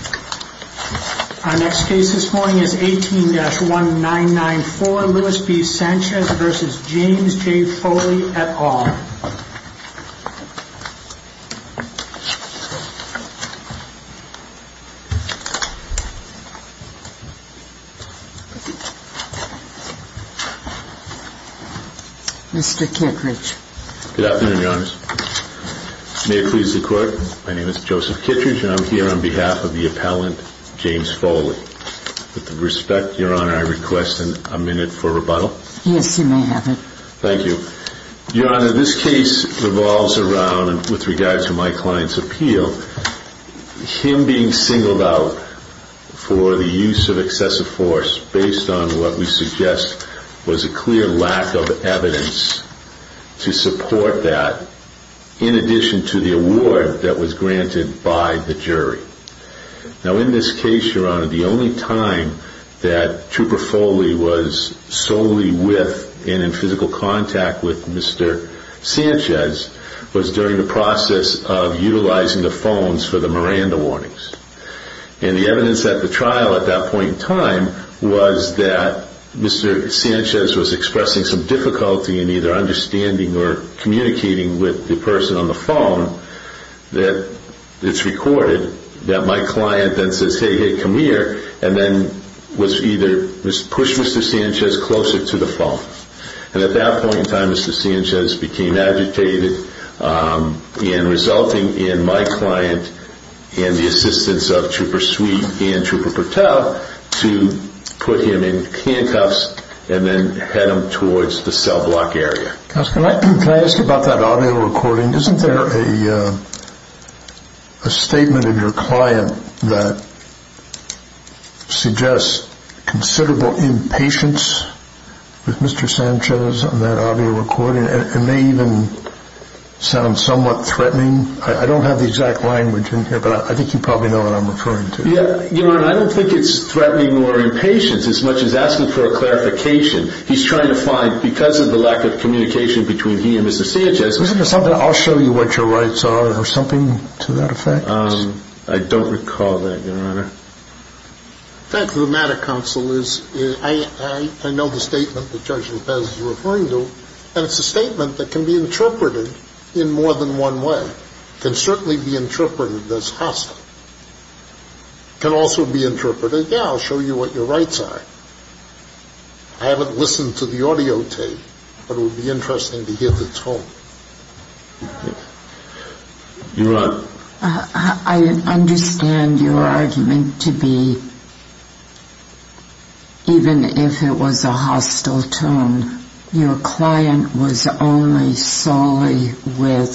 18-1994 Lewis B. Sanchez v. James J. Foley et al. May it please the Court, my name is Joseph Kittredge and I'm here on behalf of the appellant James Foley. With respect, Your Honor, I request a minute for rebuttal. Yes, you may have it. Thank you. Your Honor, this case revolves around, with regards to my client's appeal, him being singled out for the use of excessive force based on what we suggest was a clear lack of evidence to support that in addition to the award that was granted by the jury. Now, in this case, Your Honor, the only time that Trooper Foley was solely with and in physical contact with Mr. Sanchez was during the process of utilizing the phones for the Miranda warnings. And the evidence at the trial at that point in time was that Mr. Sanchez was expressing some difficulty in either understanding or communicating with the person on the phone that it's recorded that my client then says, hey, hey, come here, and then was either pushed Mr. Sanchez closer to the phone. And at that point in time, Mr. Sanchez became agitated and resulting in my client and the assistance of Trooper Sweet and Trooper Purtell to put him in handcuffs and then head him towards the cell block area. Counsel, can I ask about that audio recording? Isn't there a statement in your client that suggests considerable impatience with Mr. Sanchez on that audio recording? It may even sound somewhat threatening. I don't have the exact language in here, but I think you probably know what I'm referring to. Your Honor, I don't think it's threatening or impatience as much as asking for a clarification. He's trying to find, because of the lack of communication between he and Mr. Sanchez Isn't there something, I'll show you what your rights are or something to that effect? I don't recall that, Your Honor. The fact of the matter, Counsel, is I know the statement that Judge Lopez is referring to, and it's a statement that can be interpreted in more than one way. It can certainly be interpreted as hostile. It can also be interpreted, yeah, I'll show you what your rights are. I haven't listened to the audio tape, but it would be interesting to hear the tone. Your Honor. I understand your argument to be, even if it was a hostile tone, your client was only with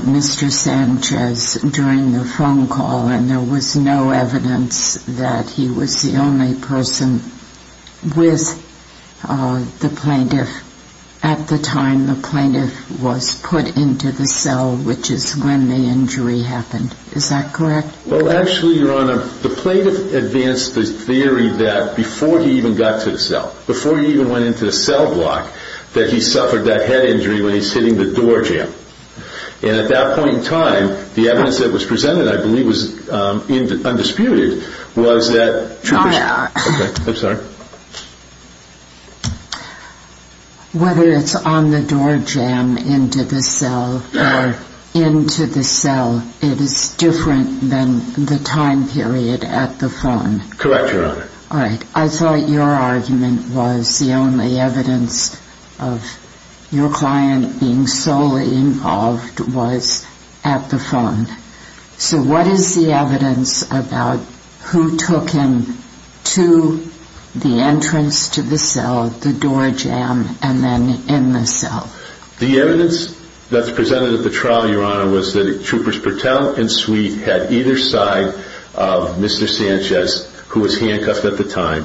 Mr. Sanchez during the phone call, and there was no evidence that he was the only person with the plaintiff at the time the plaintiff was put into the cell, which is when the injury happened. Is that correct? Well, actually, Your Honor, the plaintiff advanced the theory that before he even got to the cell, before he even went into the cell block, that he suffered that head injury when he was hitting the door jam. And at that point in time, the evidence that was presented, I believe, was undisputed, was that... Your Honor. Okay, I'm sorry. Whether it's on the door jam into the cell or into the cell, it is different than the time period at the phone. Correct, Your Honor. All right. I thought your argument was the only evidence of your client being solely involved was at the phone. So what is the evidence about who took him to the entrance to the cell, the door jam, and then in the cell? The evidence that's presented at the trial, Your Honor, was that Troopers Patel and Sweet had either side of Mr. Sanchez, who was handcuffed at the time,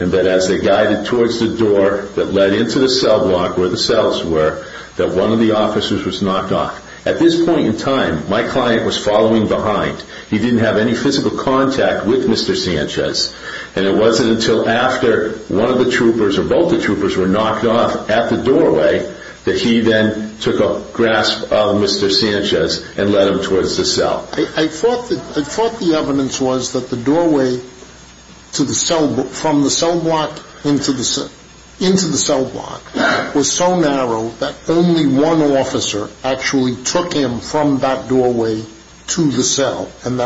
and that as they guided towards the door that led into the cell block where the cells were, that one of the officers was knocked off. At this point in time, my client was following behind. He didn't have any physical contact with Mr. Sanchez. And it wasn't until after one of the Troopers or both the Troopers were knocked off at the doorway that he then took a grasp of Mr. Sanchez and led him towards the cell. I thought the evidence was that the doorway from the cell block into the cell block was so narrow that only one officer actually took him from that doorway to the cell. And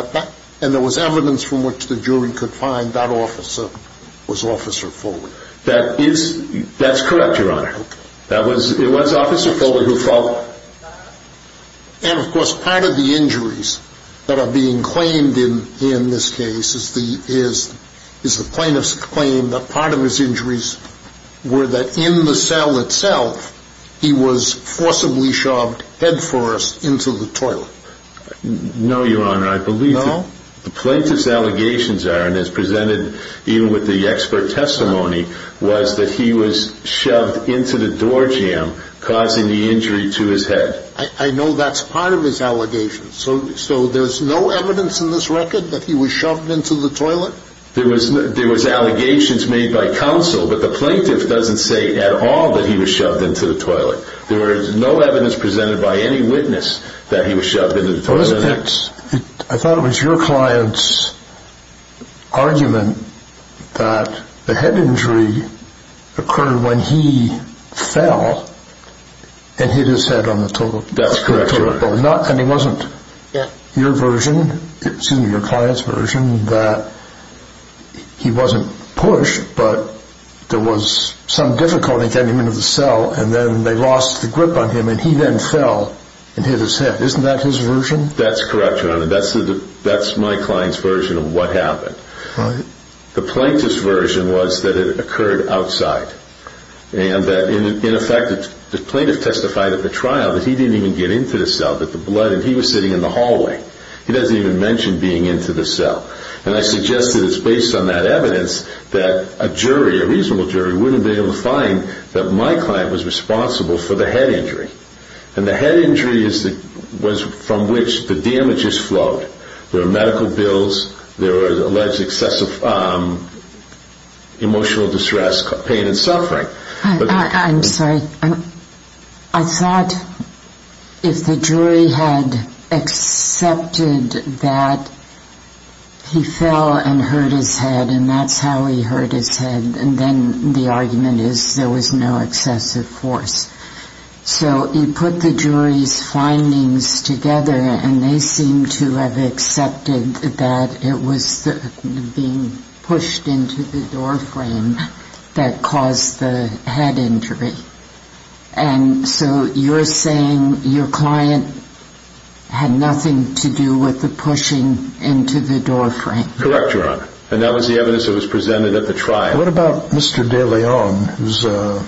there was evidence from which the jury could find that officer was Officer Foley. That's correct, Your Honor. It was Officer Foley who followed. And, of course, part of the injuries that are being claimed in this case is the plaintiff's claim that part of his injuries were that in the cell itself he was forcibly shoved headfirst into the toilet. No, Your Honor. I believe that the plaintiff's allegations are, and as presented even with the expert testimony, was that he was shoved into the doorjamb, causing the injury to his head. I know that's part of his allegations. So there's no evidence in this record that he was shoved into the toilet? There was allegations made by counsel, but the plaintiff doesn't say at all that he was shoved into the toilet. There is no evidence presented by any witness that he was shoved into the toilet. I thought it was your client's argument that the head injury occurred when he fell and hit his head on the toilet bowl. That's correct, Your Honor. And it wasn't your client's version that he wasn't pushed, but there was some difficulty getting him into the cell, and then they lost the grip on him, and he then fell and hit his head. Isn't that his version? That's correct, Your Honor. That's my client's version of what happened. All right. The plaintiff's version was that it occurred outside, and that, in effect, the plaintiff testified at the trial that he didn't even get into the cell, that the blood, and he was sitting in the hallway. He doesn't even mention being into the cell. And I suggest that it's based on that evidence that a jury, a reasonable jury, wouldn't be able to find that my client was responsible for the head injury. And the head injury was from which the damages flowed. There were medical bills. There was alleged excessive emotional distress, pain, and suffering. I'm sorry. I thought if the jury had accepted that he fell and hurt his head, and that's how he hurt his head, and then the argument is there was no excessive force. So you put the jury's findings together, and they seem to have accepted that it was being pushed into the doorframe that caused the head injury. And so you're saying your client had nothing to do with the pushing into the doorframe. Correct, Your Honor. And that was the evidence that was presented at the trial. What about Mr. De Leon, who's a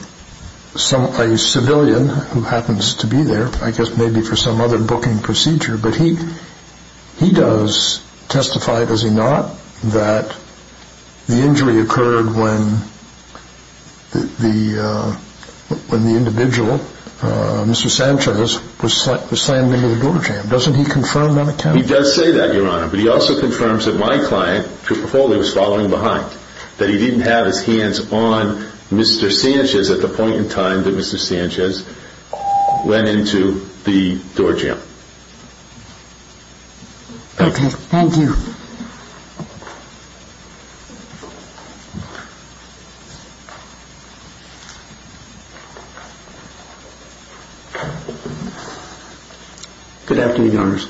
civilian who happens to be there, I guess maybe for some other booking procedure, but he does testify, does he not, that the injury occurred when the individual, Mr. Sanchez, was slammed into the doorjamb. Doesn't he confirm that account? He does say that, Your Honor. But he also confirms that my client, Trooper Foley, was following behind, that he didn't have his hands on Mr. Sanchez at the point in time that Mr. Sanchez went into the doorjamb. Okay. Thank you. Good afternoon, Your Honors.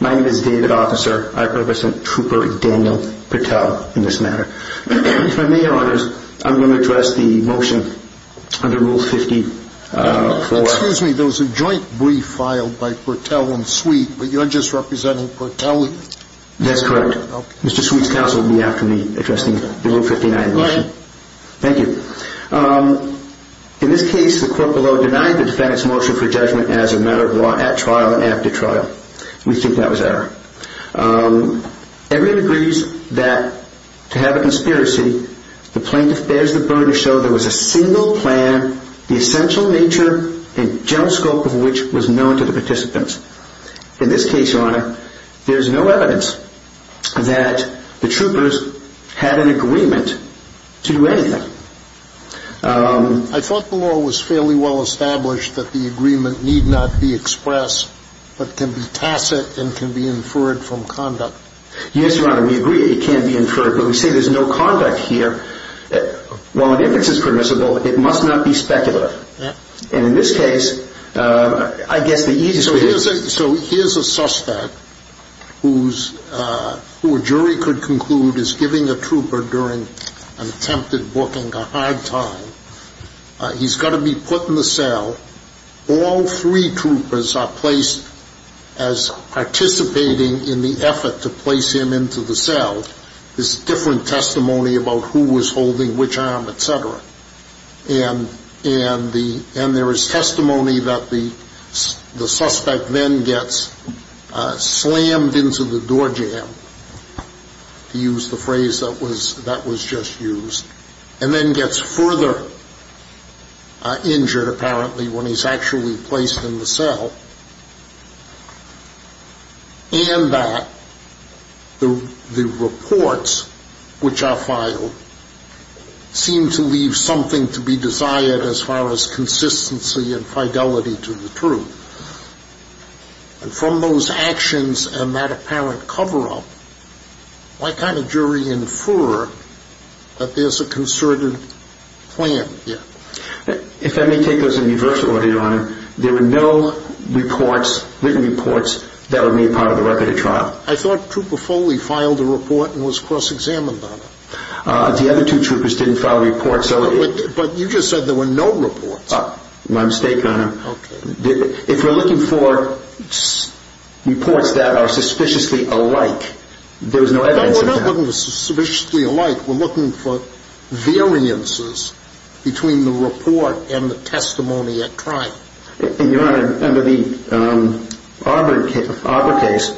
My name is David Officer. I represent Trooper Daniel Pertell in this matter. If I may, Your Honors, I'm going to address the motion under Rule 54. Excuse me, there was a joint brief filed by Pertell and Sweet, but you're just representing Pertell? That's correct. Mr. Sweet's counsel will be after me addressing the Rule 59 motion. Thank you. In this case, the court below denied the defendant's motion for judgment as a matter of law at trial and after trial. We think that was error. Everyone agrees that to have a conspiracy, the plaintiff bears the burden to show there was a single plan, the essential nature and general scope of which was known to the participants. In this case, Your Honor, there's no evidence that the troopers had an agreement to do anything. I thought the law was fairly well established that the agreement need not be expressed, but can be tacit and can be inferred from conduct. Yes, Your Honor, we agree it can be inferred, but we say there's no conduct here. Well, if it's permissible, it must not be speculative. And in this case, I guess the easiest way is So here's a suspect who a jury could conclude is giving a trooper during an attempted booking a hard time. He's got to be put in the cell. All three troopers are placed as participating in the effort to place him into the cell. There's different testimony about who was holding which arm, etc. And there is testimony that the suspect then gets slammed into the doorjamb, to use the phrase that was just used, and then gets further injured, apparently, when he's actually placed in the cell. And that the reports which are filed seem to leave something to be desired as far as consistency and fidelity to the truth. And from those actions and that apparent cover-up, why can't a jury infer that there's a concerted plan here? If I may take this in reverse order, Your Honor, there were no reports, written reports, that were made part of the record of trial. I thought Trooper Foley filed a report and was cross-examined on it. The other two troopers didn't file reports. But you just said there were no reports. My mistake, Your Honor. Okay. If you're looking for reports that are suspiciously alike, there was no evidence of that. No, we're not looking for suspiciously alike. We're looking for variances between the report and the testimony at trial. And, Your Honor, under the Arbor case,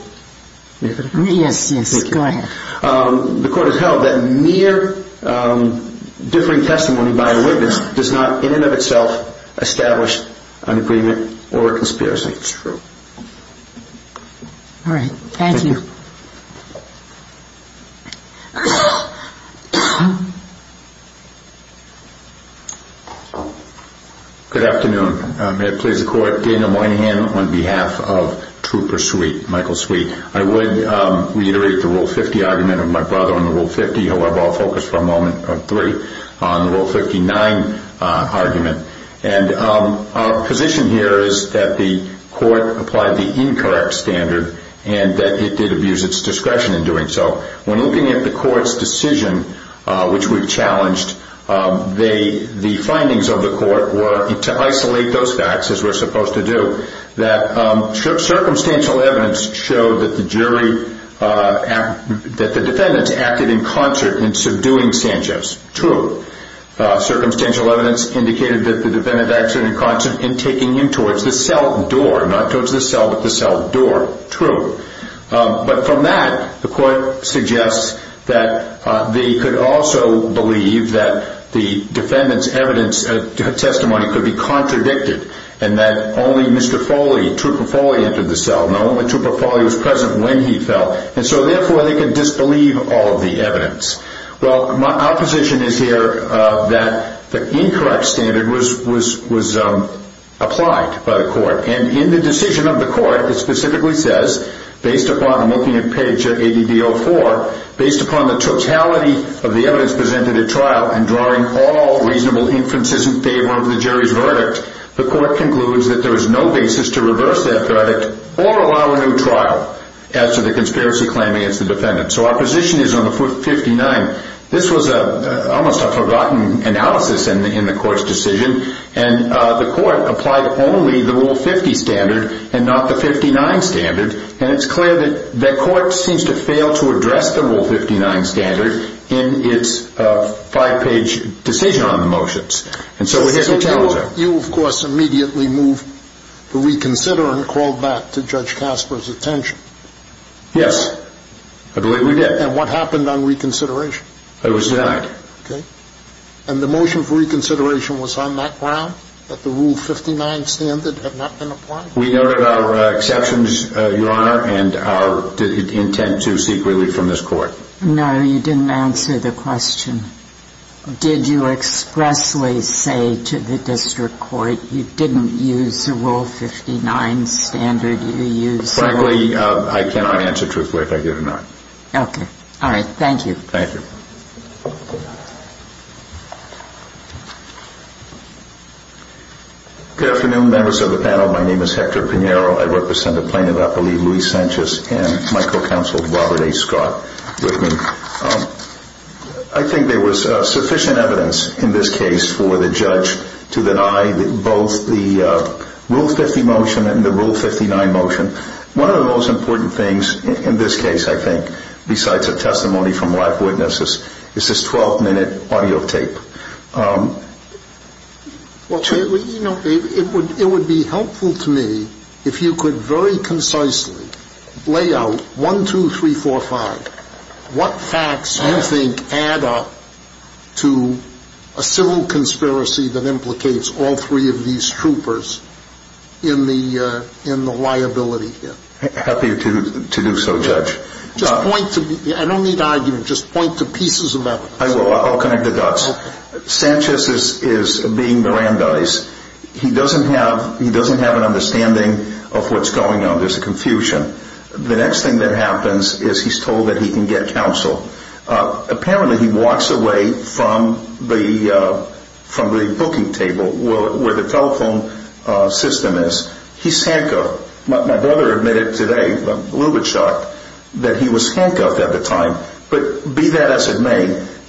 the court has held that mere differing testimony by a witness does not in and of itself establish an agreement or a conspiracy. All right. Thank you. Good afternoon. May it please the Court, Dana Moynihan on behalf of Trooper Sweet, Michael Sweet. I would reiterate the Rule 50 argument of my brother on the Rule 50, however I'll focus for a moment, on the Rule 59 argument. And our position here is that the court applied the incorrect standard and that it did abuse its discretion in doing so. When looking at the court's decision, which we've challenged, the findings of the court were to isolate those facts, as we're supposed to do, circumstantial evidence showed that the defendants acted in concert in subduing Sanchez. True. Circumstantial evidence indicated that the defendant acted in concert in taking him towards the cell door. Not towards the cell, but the cell door. True. But from that, the court suggests that they could also believe that the defendant's testimony could be contradicted and that only Mr. Foley, Trooper Foley, entered the cell. Now, only Trooper Foley was present when he fell. And so, therefore, they could disbelieve all of the evidence. Well, our position is here that the incorrect standard was applied by the court. And in the decision of the court, it specifically says, based upon, I'm looking at page 80B04, based upon the totality of the evidence presented at trial and drawing all reasonable inferences in favor of the jury's verdict, the court concludes that there is no basis to reverse that verdict or allow a new trial as to the conspiracy claim against the defendant. So our position is on the 59. This was almost a forgotten analysis in the court's decision. And the court applied only the Rule 50 standard and not the 59 standard. And it's clear that the court seems to fail to address the Rule 59 standard in its five-page decision on the motions. And so we have to tell them. You, of course, immediately moved to reconsider and called back to Judge Casper's attention. Yes. I believe we did. And what happened on reconsideration? It was denied. Okay. And the motion for reconsideration was on that ground, that the Rule 59 standard had not been applied? We noted our exceptions, Your Honor, and our intent to seek relief from this court. No, you didn't answer the question. Did you expressly say to the district court you didn't use the Rule 59 standard? Frankly, I cannot answer truthfully if I did or not. Okay. All right. Thank you. Thank you. Good afternoon, members of the panel. My name is Hector Pinheiro. I represent the plaintiff, I believe, Luis Sanchez, and my co-counsel, Robert A. Scott, with me. I think there was sufficient evidence in this case for the judge to deny both the Rule 50 motion and the Rule 59 motion. One of the most important things in this case, I think, besides a testimony from live witnesses, is this 12-minute audio tape. Well, it would be helpful to me if you could very concisely lay out, one, two, three, four, five, what facts do you think add up to a civil conspiracy that implicates all three of these troopers in the liability here? Happy to do so, Judge. Just point to me. I don't need argument. Just point to pieces of evidence. I will. I'll connect the dots. Sanchez is being Brandeis. He doesn't have an understanding of what's going on. There's a confusion. The next thing that happens is he's told that he can get counsel. Apparently, he walks away from the booking table where the telephone system is. He's handcuffed. My brother admitted today, a little bit shocked, that he was handcuffed at the time. But be that as it may,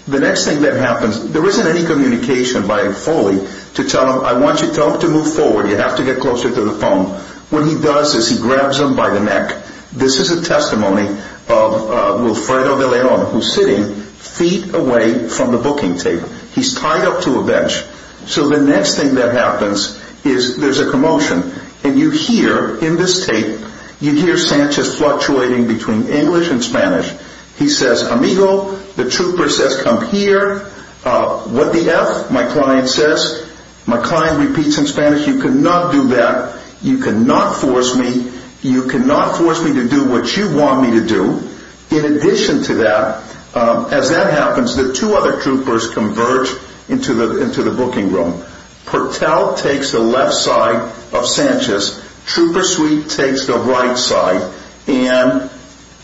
the next thing that happens, there isn't any communication by Foley to tell him, I want you to tell him to move forward. You have to get closer to the phone. What he does is he grabs him by the neck. This is a testimony of Wilfredo de Leon, who's sitting feet away from the booking table. He's tied up to a bench. So the next thing that happens is there's a commotion. And you hear in this tape, you hear Sanchez fluctuating between English and Spanish. He says, amigo, the trooper says come here. What the F, my client says. My client repeats in Spanish, you cannot do that. You cannot force me. You cannot force me to do what you want me to do. In addition to that, as that happens, the two other troopers converge into the booking room. Patel takes the left side of Sanchez. Trooper Sweet takes the right side. And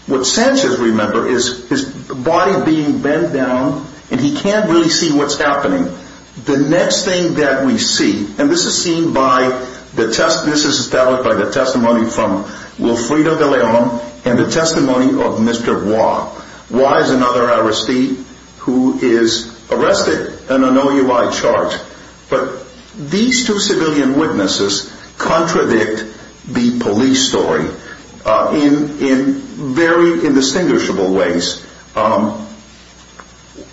what Sanchez remembers is his body being bent down, and he can't really see what's happening. The next thing that we see, and this is seen by the testimony from Wilfredo de Leon and the testimony of Mr. Hua. Hua is another arrestee who is arrested in an OUI charge. But these two civilian witnesses contradict the police story in very indistinguishable ways.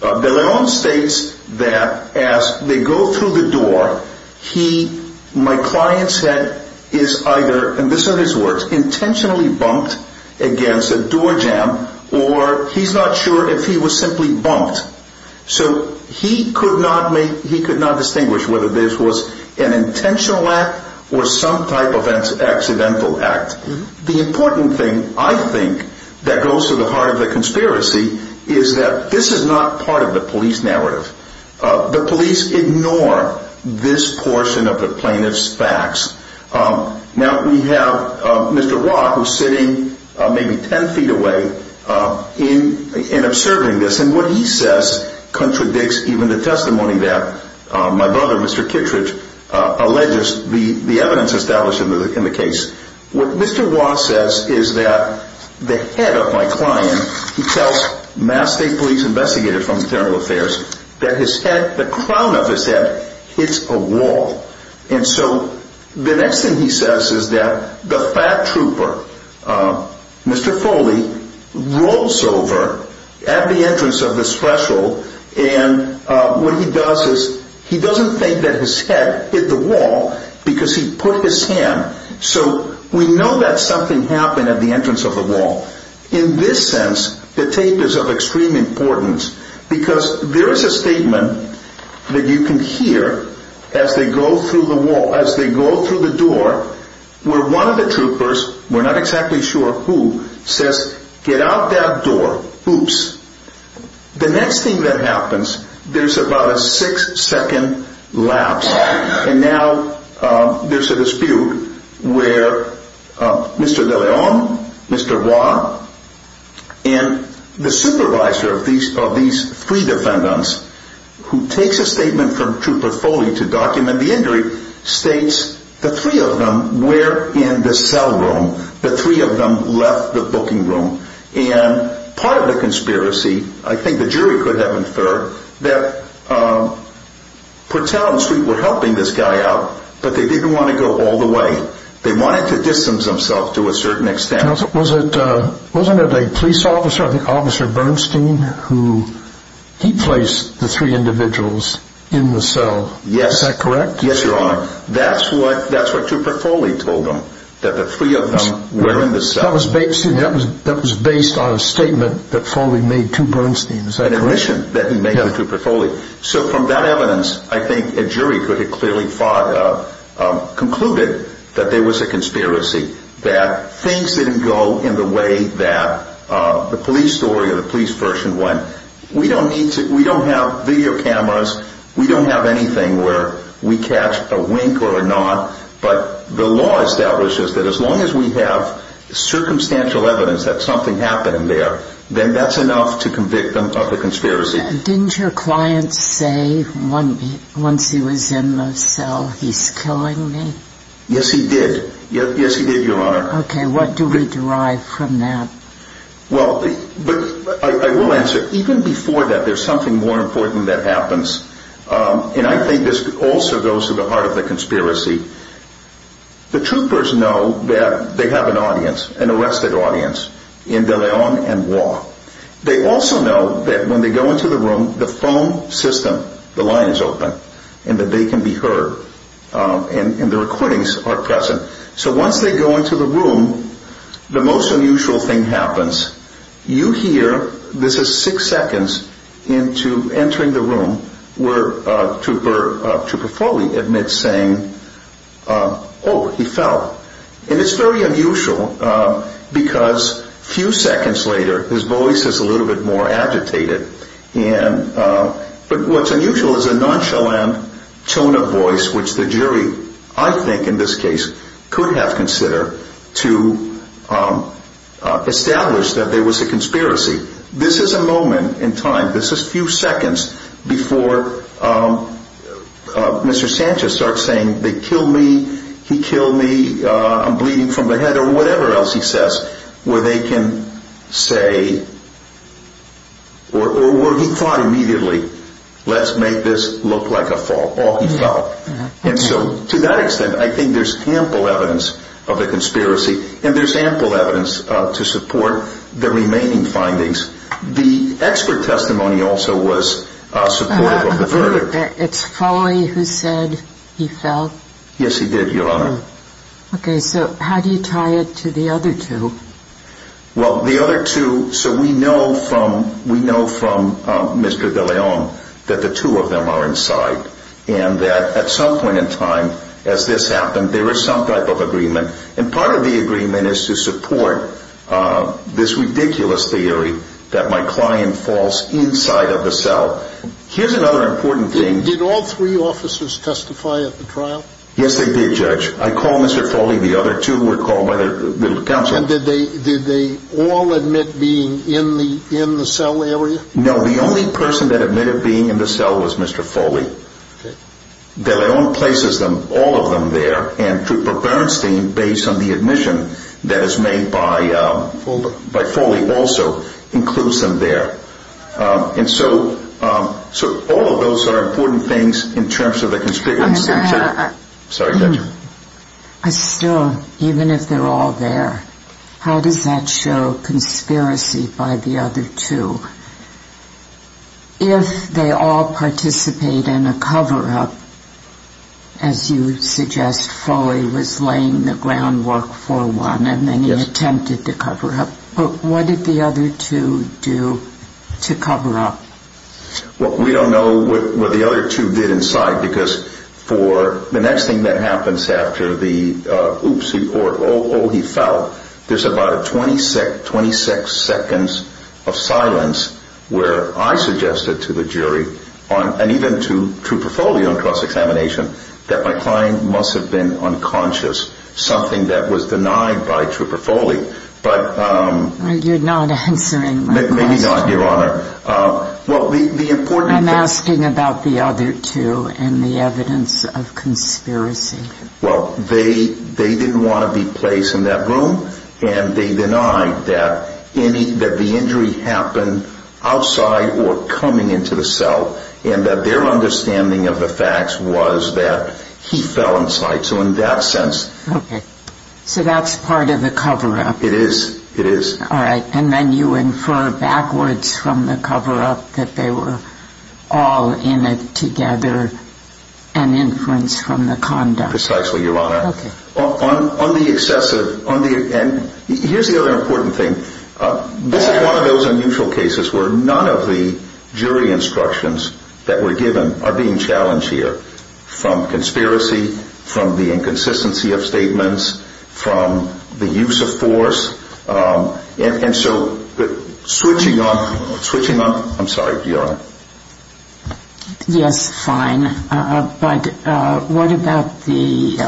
De Leon states that as they go through the door, he, my client said, is either, and these are his words, intentionally bumped against a door jamb, or he's not sure if he was simply bumped. So he could not make, he could not distinguish whether this was an intentional act or some type of accidental act. The important thing, I think, that goes to the heart of the conspiracy is that this is not part of the police narrative. The police ignore this portion of the plaintiff's facts. Now we have Mr. Hua, who's sitting maybe 10 feet away, and observing this. And what he says contradicts even the testimony that my brother, Mr. Kittredge, alleges the evidence established in the case. What Mr. Hua says is that the head of my client, he tells Mass State Police investigators from Internal Affairs, that his head, the crown of his head, hits a wall. And so the next thing he says is that the fat trooper, Mr. Foley, rolls over at the entrance of this threshold, and what he does is he doesn't think that his head hit the wall because he put his hand So we know that something happened at the entrance of the wall. In this sense, the tape is of extreme importance because there is a statement that you can hear as they go through the wall, as they go through the door, where one of the troopers, we're not exactly sure who, says, get out that door, oops. The next thing that happens, there's about a six second lapse. And now there's a dispute where Mr. De Leon, Mr. Hua, and the supervisor of these three defendants, who takes a statement from Trooper Foley to document the injury, states the three of them were in the cell room. The three of them left the booking room. And part of the conspiracy, I think the jury could have inferred, that Portell and Street were helping this guy out, but they didn't want to go all the way. They wanted to distance themselves to a certain extent. Now, wasn't it a police officer, I think Officer Bernstein, who, he placed the three individuals in the cell. Yes. Is that correct? Yes, Your Honor. That's what Trooper Foley told them, that the three of them were in the cell. That was based on a statement that Foley made to Bernstein, is that correct? An admission that he made to Trooper Foley. So from that evidence, I think a jury could have clearly concluded that there was a conspiracy, that things didn't go in the way that the police story or the police version went. We don't have video cameras. We don't have anything where we catch a wink or a nod. But the law establishes that as long as we have circumstantial evidence that something happened there, then that's enough to convict them of the conspiracy. Didn't your client say once he was in the cell, he's killing me? Yes, he did. Yes, he did, Your Honor. Okay, what do we derive from that? Well, I will answer. Even before that, there's something more important that happens, and I think this also goes to the heart of the conspiracy. The troopers know that they have an audience, an arrested audience, in De Leon and Waugh. They also know that when they go into the room, the phone system, the line is open, and that they can be heard, and the recordings are present. So once they go into the room, the most unusual thing happens. You hear, this is six seconds into entering the room, where Trooper Foley admits saying, oh, he fell. And it's very unusual because a few seconds later, his voice is a little bit more agitated. But what's unusual is a nonchalant tone of voice, which the jury, I think in this case, could have considered to establish that there was a conspiracy. This is a moment in time, this is a few seconds before Mr. Sanchez starts saying, they killed me, he killed me, I'm bleeding from the head, or whatever else he says, where they can say, or where he thought immediately, let's make this look like a fault. Oh, he fell. And so to that extent, I think there's ample evidence of a conspiracy, and there's ample evidence to support the remaining findings. The expert testimony also was supportive of the verdict. It's Foley who said he fell? Yes, he did, Your Honor. Okay, so how do you tie it to the other two? Well, the other two, so we know from Mr. de Leon that the two of them are inside, and that at some point in time, as this happened, there was some type of agreement. And part of the agreement is to support this ridiculous theory that my client falls inside of the cell. Here's another important thing. Did all three officers testify at the trial? Yes, they did, Judge. I call Mr. Foley. The other two were called by the little counselor. And did they all admit being in the cell area? No, the only person that admitted being in the cell was Mr. Foley. De Leon places all of them there, and Trooper Bernstein, based on the admission that is made by Foley, also includes them there. And so all of those are important things in terms of the conspiracy. I'm sorry, Judge. I still, even if they're all there, how does that show conspiracy by the other two? If they all participate in a cover-up, as you suggest, Foley was laying the groundwork for one, and then he attempted the cover-up. But what did the other two do to cover up? Well, we don't know what the other two did inside, because for the next thing that happens after the oopsie or oh, oh, he fell, there's about a 26 seconds of silence where I suggested to the jury, and even to Trooper Foley on cross-examination, that my client must have been unconscious, something that was denied by Trooper Foley. You're not answering my question. Maybe not, Your Honor. I'm asking about the other two and the evidence of conspiracy. Well, they didn't want to be placed in that room, and they denied that the injury happened outside or coming into the cell, and that their understanding of the facts was that he fell inside. Okay. So that's part of the cover-up. It is. It is. All right. And then you infer backwards from the cover-up that they were all in it together, an inference from the conduct. Precisely, Your Honor. Okay. On the excessive, and here's the other important thing. This is one of those unusual cases where none of the jury instructions that were given are being challenged here, from conspiracy, from the inconsistency of statements, from the use of force. And so switching on, I'm sorry, Your Honor. Yes, fine. But what about the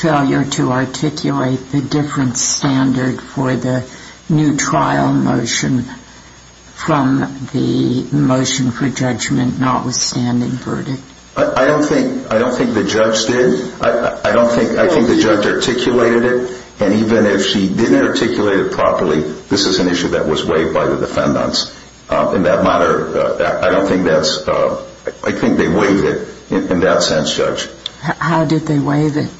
failure to articulate the different standard for the new trial motion from the motion for judgment notwithstanding verdict? I don't think the judge did. I think the judge articulated it, and even if she didn't articulate it properly, this is an issue that was waived by the defendants. In that matter, I think they waived it in that sense, Judge. How did they waive it?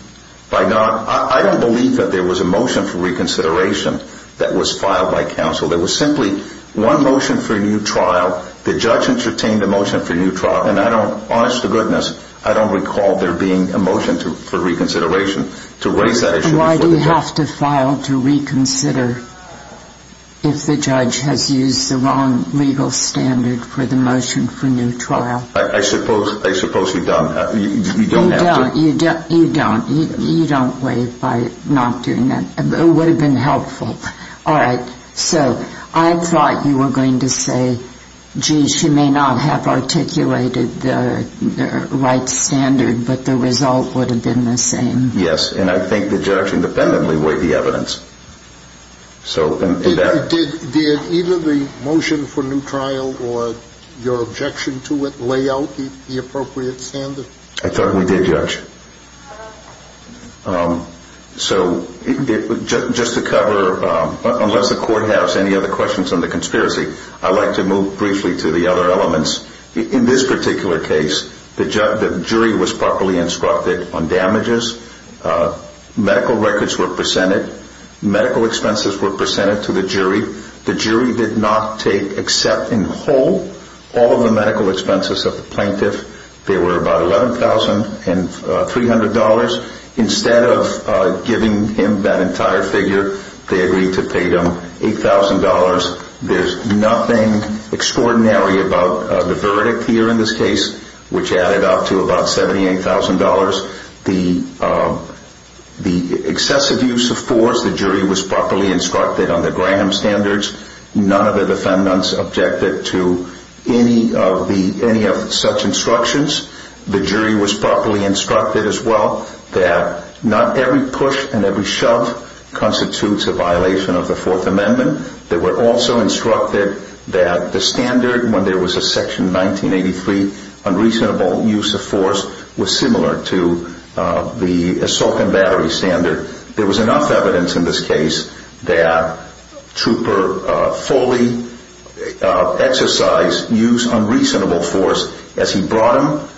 I don't believe that there was a motion for reconsideration that was filed by counsel. There was simply one motion for a new trial. The judge entertained a motion for a new trial, and I don't, honest to goodness, I don't recall there being a motion for reconsideration to raise that issue. Why do you have to file to reconsider if the judge has used the wrong legal standard for the motion for a new trial? I suppose you don't. You don't have to. You don't. You don't waive by not doing that. It would have been helpful. All right. So I thought you were going to say, gee, she may not have articulated the right standard, but the result would have been the same. Yes, and I think the judge independently waived the evidence. Did either the motion for new trial or your objection to it lay out the appropriate standard? I thought we did, Judge. So just to cover, unless the Court has any other questions on the conspiracy, I'd like to move briefly to the other elements. In this particular case, the jury was properly instructed on damages. Medical records were presented. Medical expenses were presented to the jury. The jury did not take, except in whole, all of the medical expenses of the plaintiff. They were about $11,300. Instead of giving him that entire figure, they agreed to pay him $8,000. There's nothing extraordinary about the verdict here in this case, which added up to about $78,000. The excessive use of force, the jury was properly instructed on the Graham standards. None of the defendants objected to any of such instructions. The jury was properly instructed as well that not every push and every shove constitutes a violation of the Fourth Amendment. They were also instructed that the standard, when there was a Section 1983 unreasonable use of force, was similar to the assault and battery standard. There was enough evidence in this case that Trooper fully exercised, used unreasonable force as he brought him,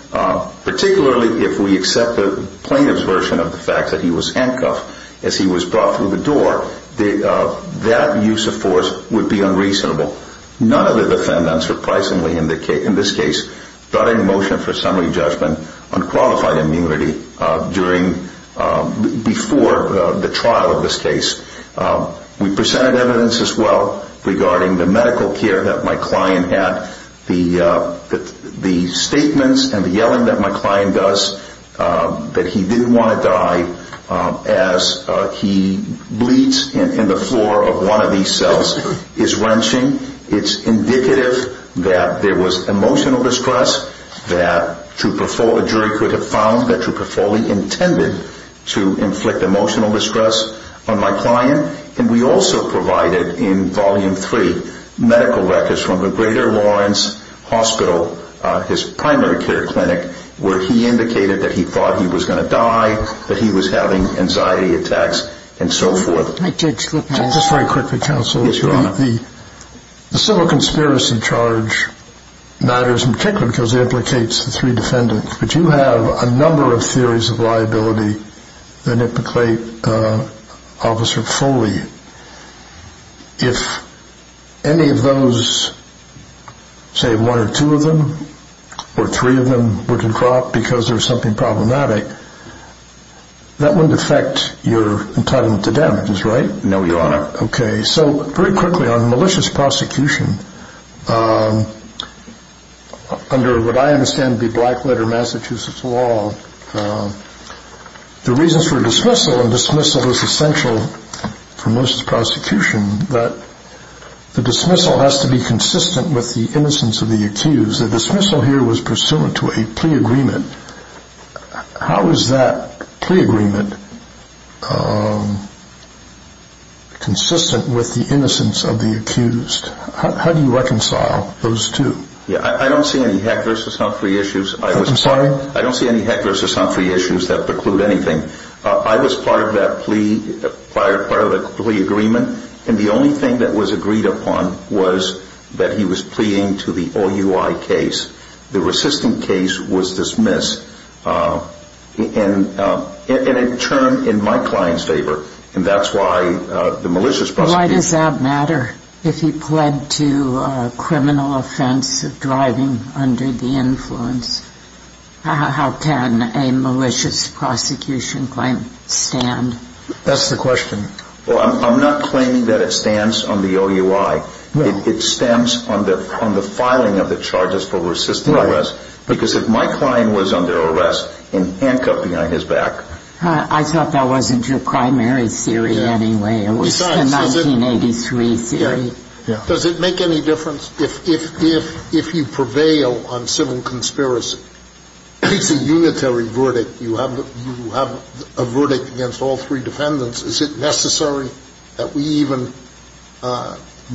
particularly if we accept the plaintiff's version of the fact that he was handcuffed as he was brought through the door, that use of force would be unreasonable. None of the defendants, surprisingly in this case, brought in motion for summary judgment on qualified immunity before the trial of this case. We presented evidence as well regarding the medical care that my client had. The statements and the yelling that my client does that he didn't want to die as he bleeds in the floor of one of these cells is wrenching. It's indicative that there was emotional distress, that a jury could have found that Trooper fully intended to inflict emotional distress on my client. And we also provided in Volume 3 medical records from the Greater Lawrence Hospital, his primary care clinic, where he indicated that he thought he was going to die, that he was having anxiety attacks, and so forth. Just very quickly, Counsel. Yes, Your Honor. The civil conspiracy charge matters in particular because it implicates the three defendants, but you have a number of theories of liability that implicate Officer Foley. If any of those, say one or two of them, or three of them, were to drop because there was something problematic, that wouldn't affect your entitlement to damages, right? No, Your Honor. Okay. So very quickly, on malicious prosecution, under what I understand to be black-letter Massachusetts law, the reasons for dismissal, and dismissal is essential for malicious prosecution, that the dismissal has to be consistent with the innocence of the accused. The dismissal here was pursuant to a plea agreement. How is that plea agreement consistent with the innocence of the accused? How do you reconcile those two? I don't see any heck versus humphrey issues. I'm sorry? I don't see any heck versus humphrey issues that preclude anything. I was part of that plea agreement, and the only thing that was agreed upon was that he was pleading to the OUI case. The resistant case was dismissed, and it turned in my client's favor, and that's why the malicious prosecution... Why does that matter if he pled to a criminal offense of driving under the influence? How can a malicious prosecution claim stand? That's the question. Well, I'm not claiming that it stands on the OUI. It stands on the filing of the charges for resistant arrest because if my client was under arrest and handcuffed behind his back... I thought that wasn't your primary theory anyway. It was the 1983 theory. Does it make any difference if you prevail on civil conspiracy? It's a unitary verdict. You have a verdict against all three defendants. Is it necessary that we even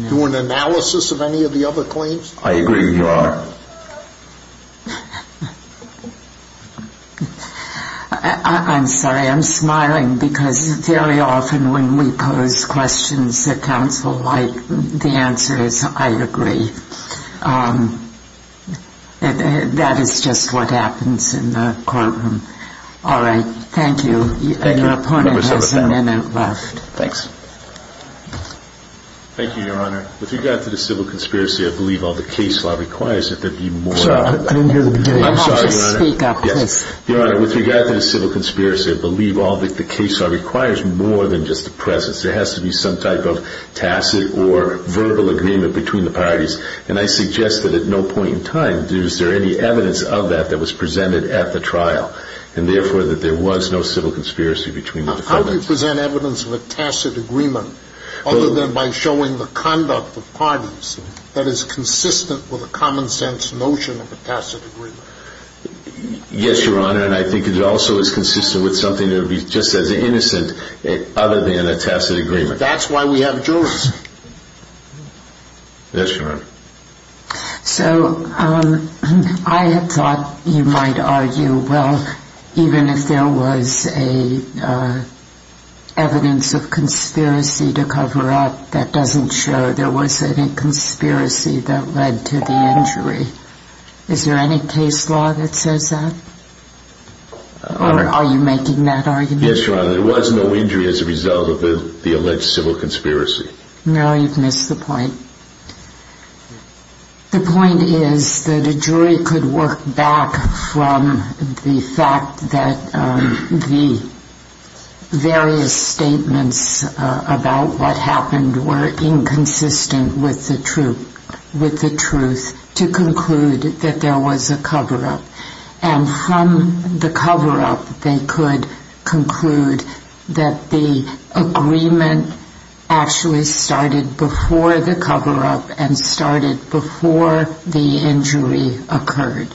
do an analysis of any of the other claims? I agree with you, Your Honor. I'm sorry. I'm smiling because very often when we pose questions that counsel like, the answer is I agree. That is just what happens in the courtroom. All right. Thank you. Your opponent has a minute left. Thanks. Thank you, Your Honor. With regard to the civil conspiracy, I believe all the case law requires that there be more... I didn't hear the beginning. I'm sorry, Your Honor. Speak up, please. Your Honor, with regard to the civil conspiracy, I believe all that the case law requires more than just the presence. There has to be some type of tacit or verbal agreement between the parties, and I suggest that at no point in time is there any evidence of that that was presented at the trial and therefore that there was no civil conspiracy between the defendants. How do you present evidence of a tacit agreement other than by showing the conduct of parties that is consistent with a common sense notion of a tacit agreement? Yes, Your Honor, and I think it also is consistent with something that would be just as innocent other than a tacit agreement. That's why we have jurors. Yes, Your Honor. So I had thought you might argue, well, even if there was evidence of conspiracy to cover up, that doesn't show there was any conspiracy that led to the injury. Is there any case law that says that? Or are you making that argument? Yes, Your Honor. There was no injury as a result of the alleged civil conspiracy. No, you've missed the point. The point is that a jury could work back from the fact that the various statements about what happened were inconsistent with the truth to conclude that there was a cover-up. And from the cover-up, they could conclude that the agreement actually started before the cover-up and started before the injury occurred.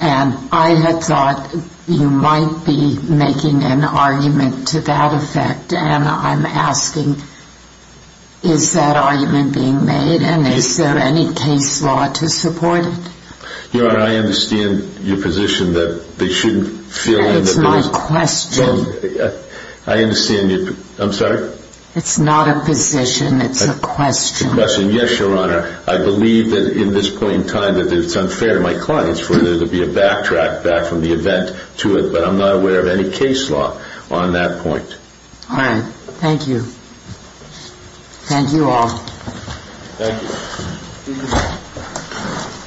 And I had thought you might be making an argument to that effect. And I'm asking, is that argument being made? And is there any case law to support it? Your Honor, I understand your position that they shouldn't feel that there was... That is my question. I understand your... I'm sorry? It's not a position. It's a question. A question. Yes, Your Honor. I believe that in this point in time that it's unfair to my clients for there to be a backtrack back from the event to it, but I'm not aware of any case law on that point. All right. Thank you. Thank you all. Thank you.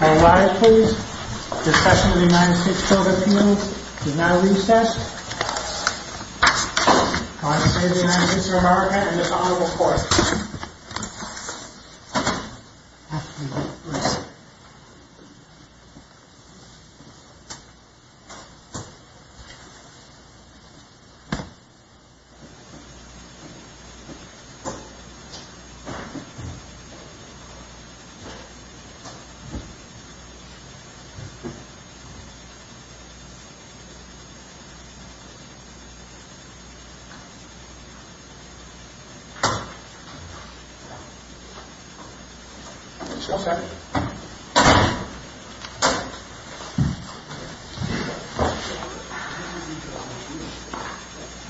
All rise, please. Discussion of the United States Covert Appeal is now recessed. I say to the United States of America and this honorable court... Thank you.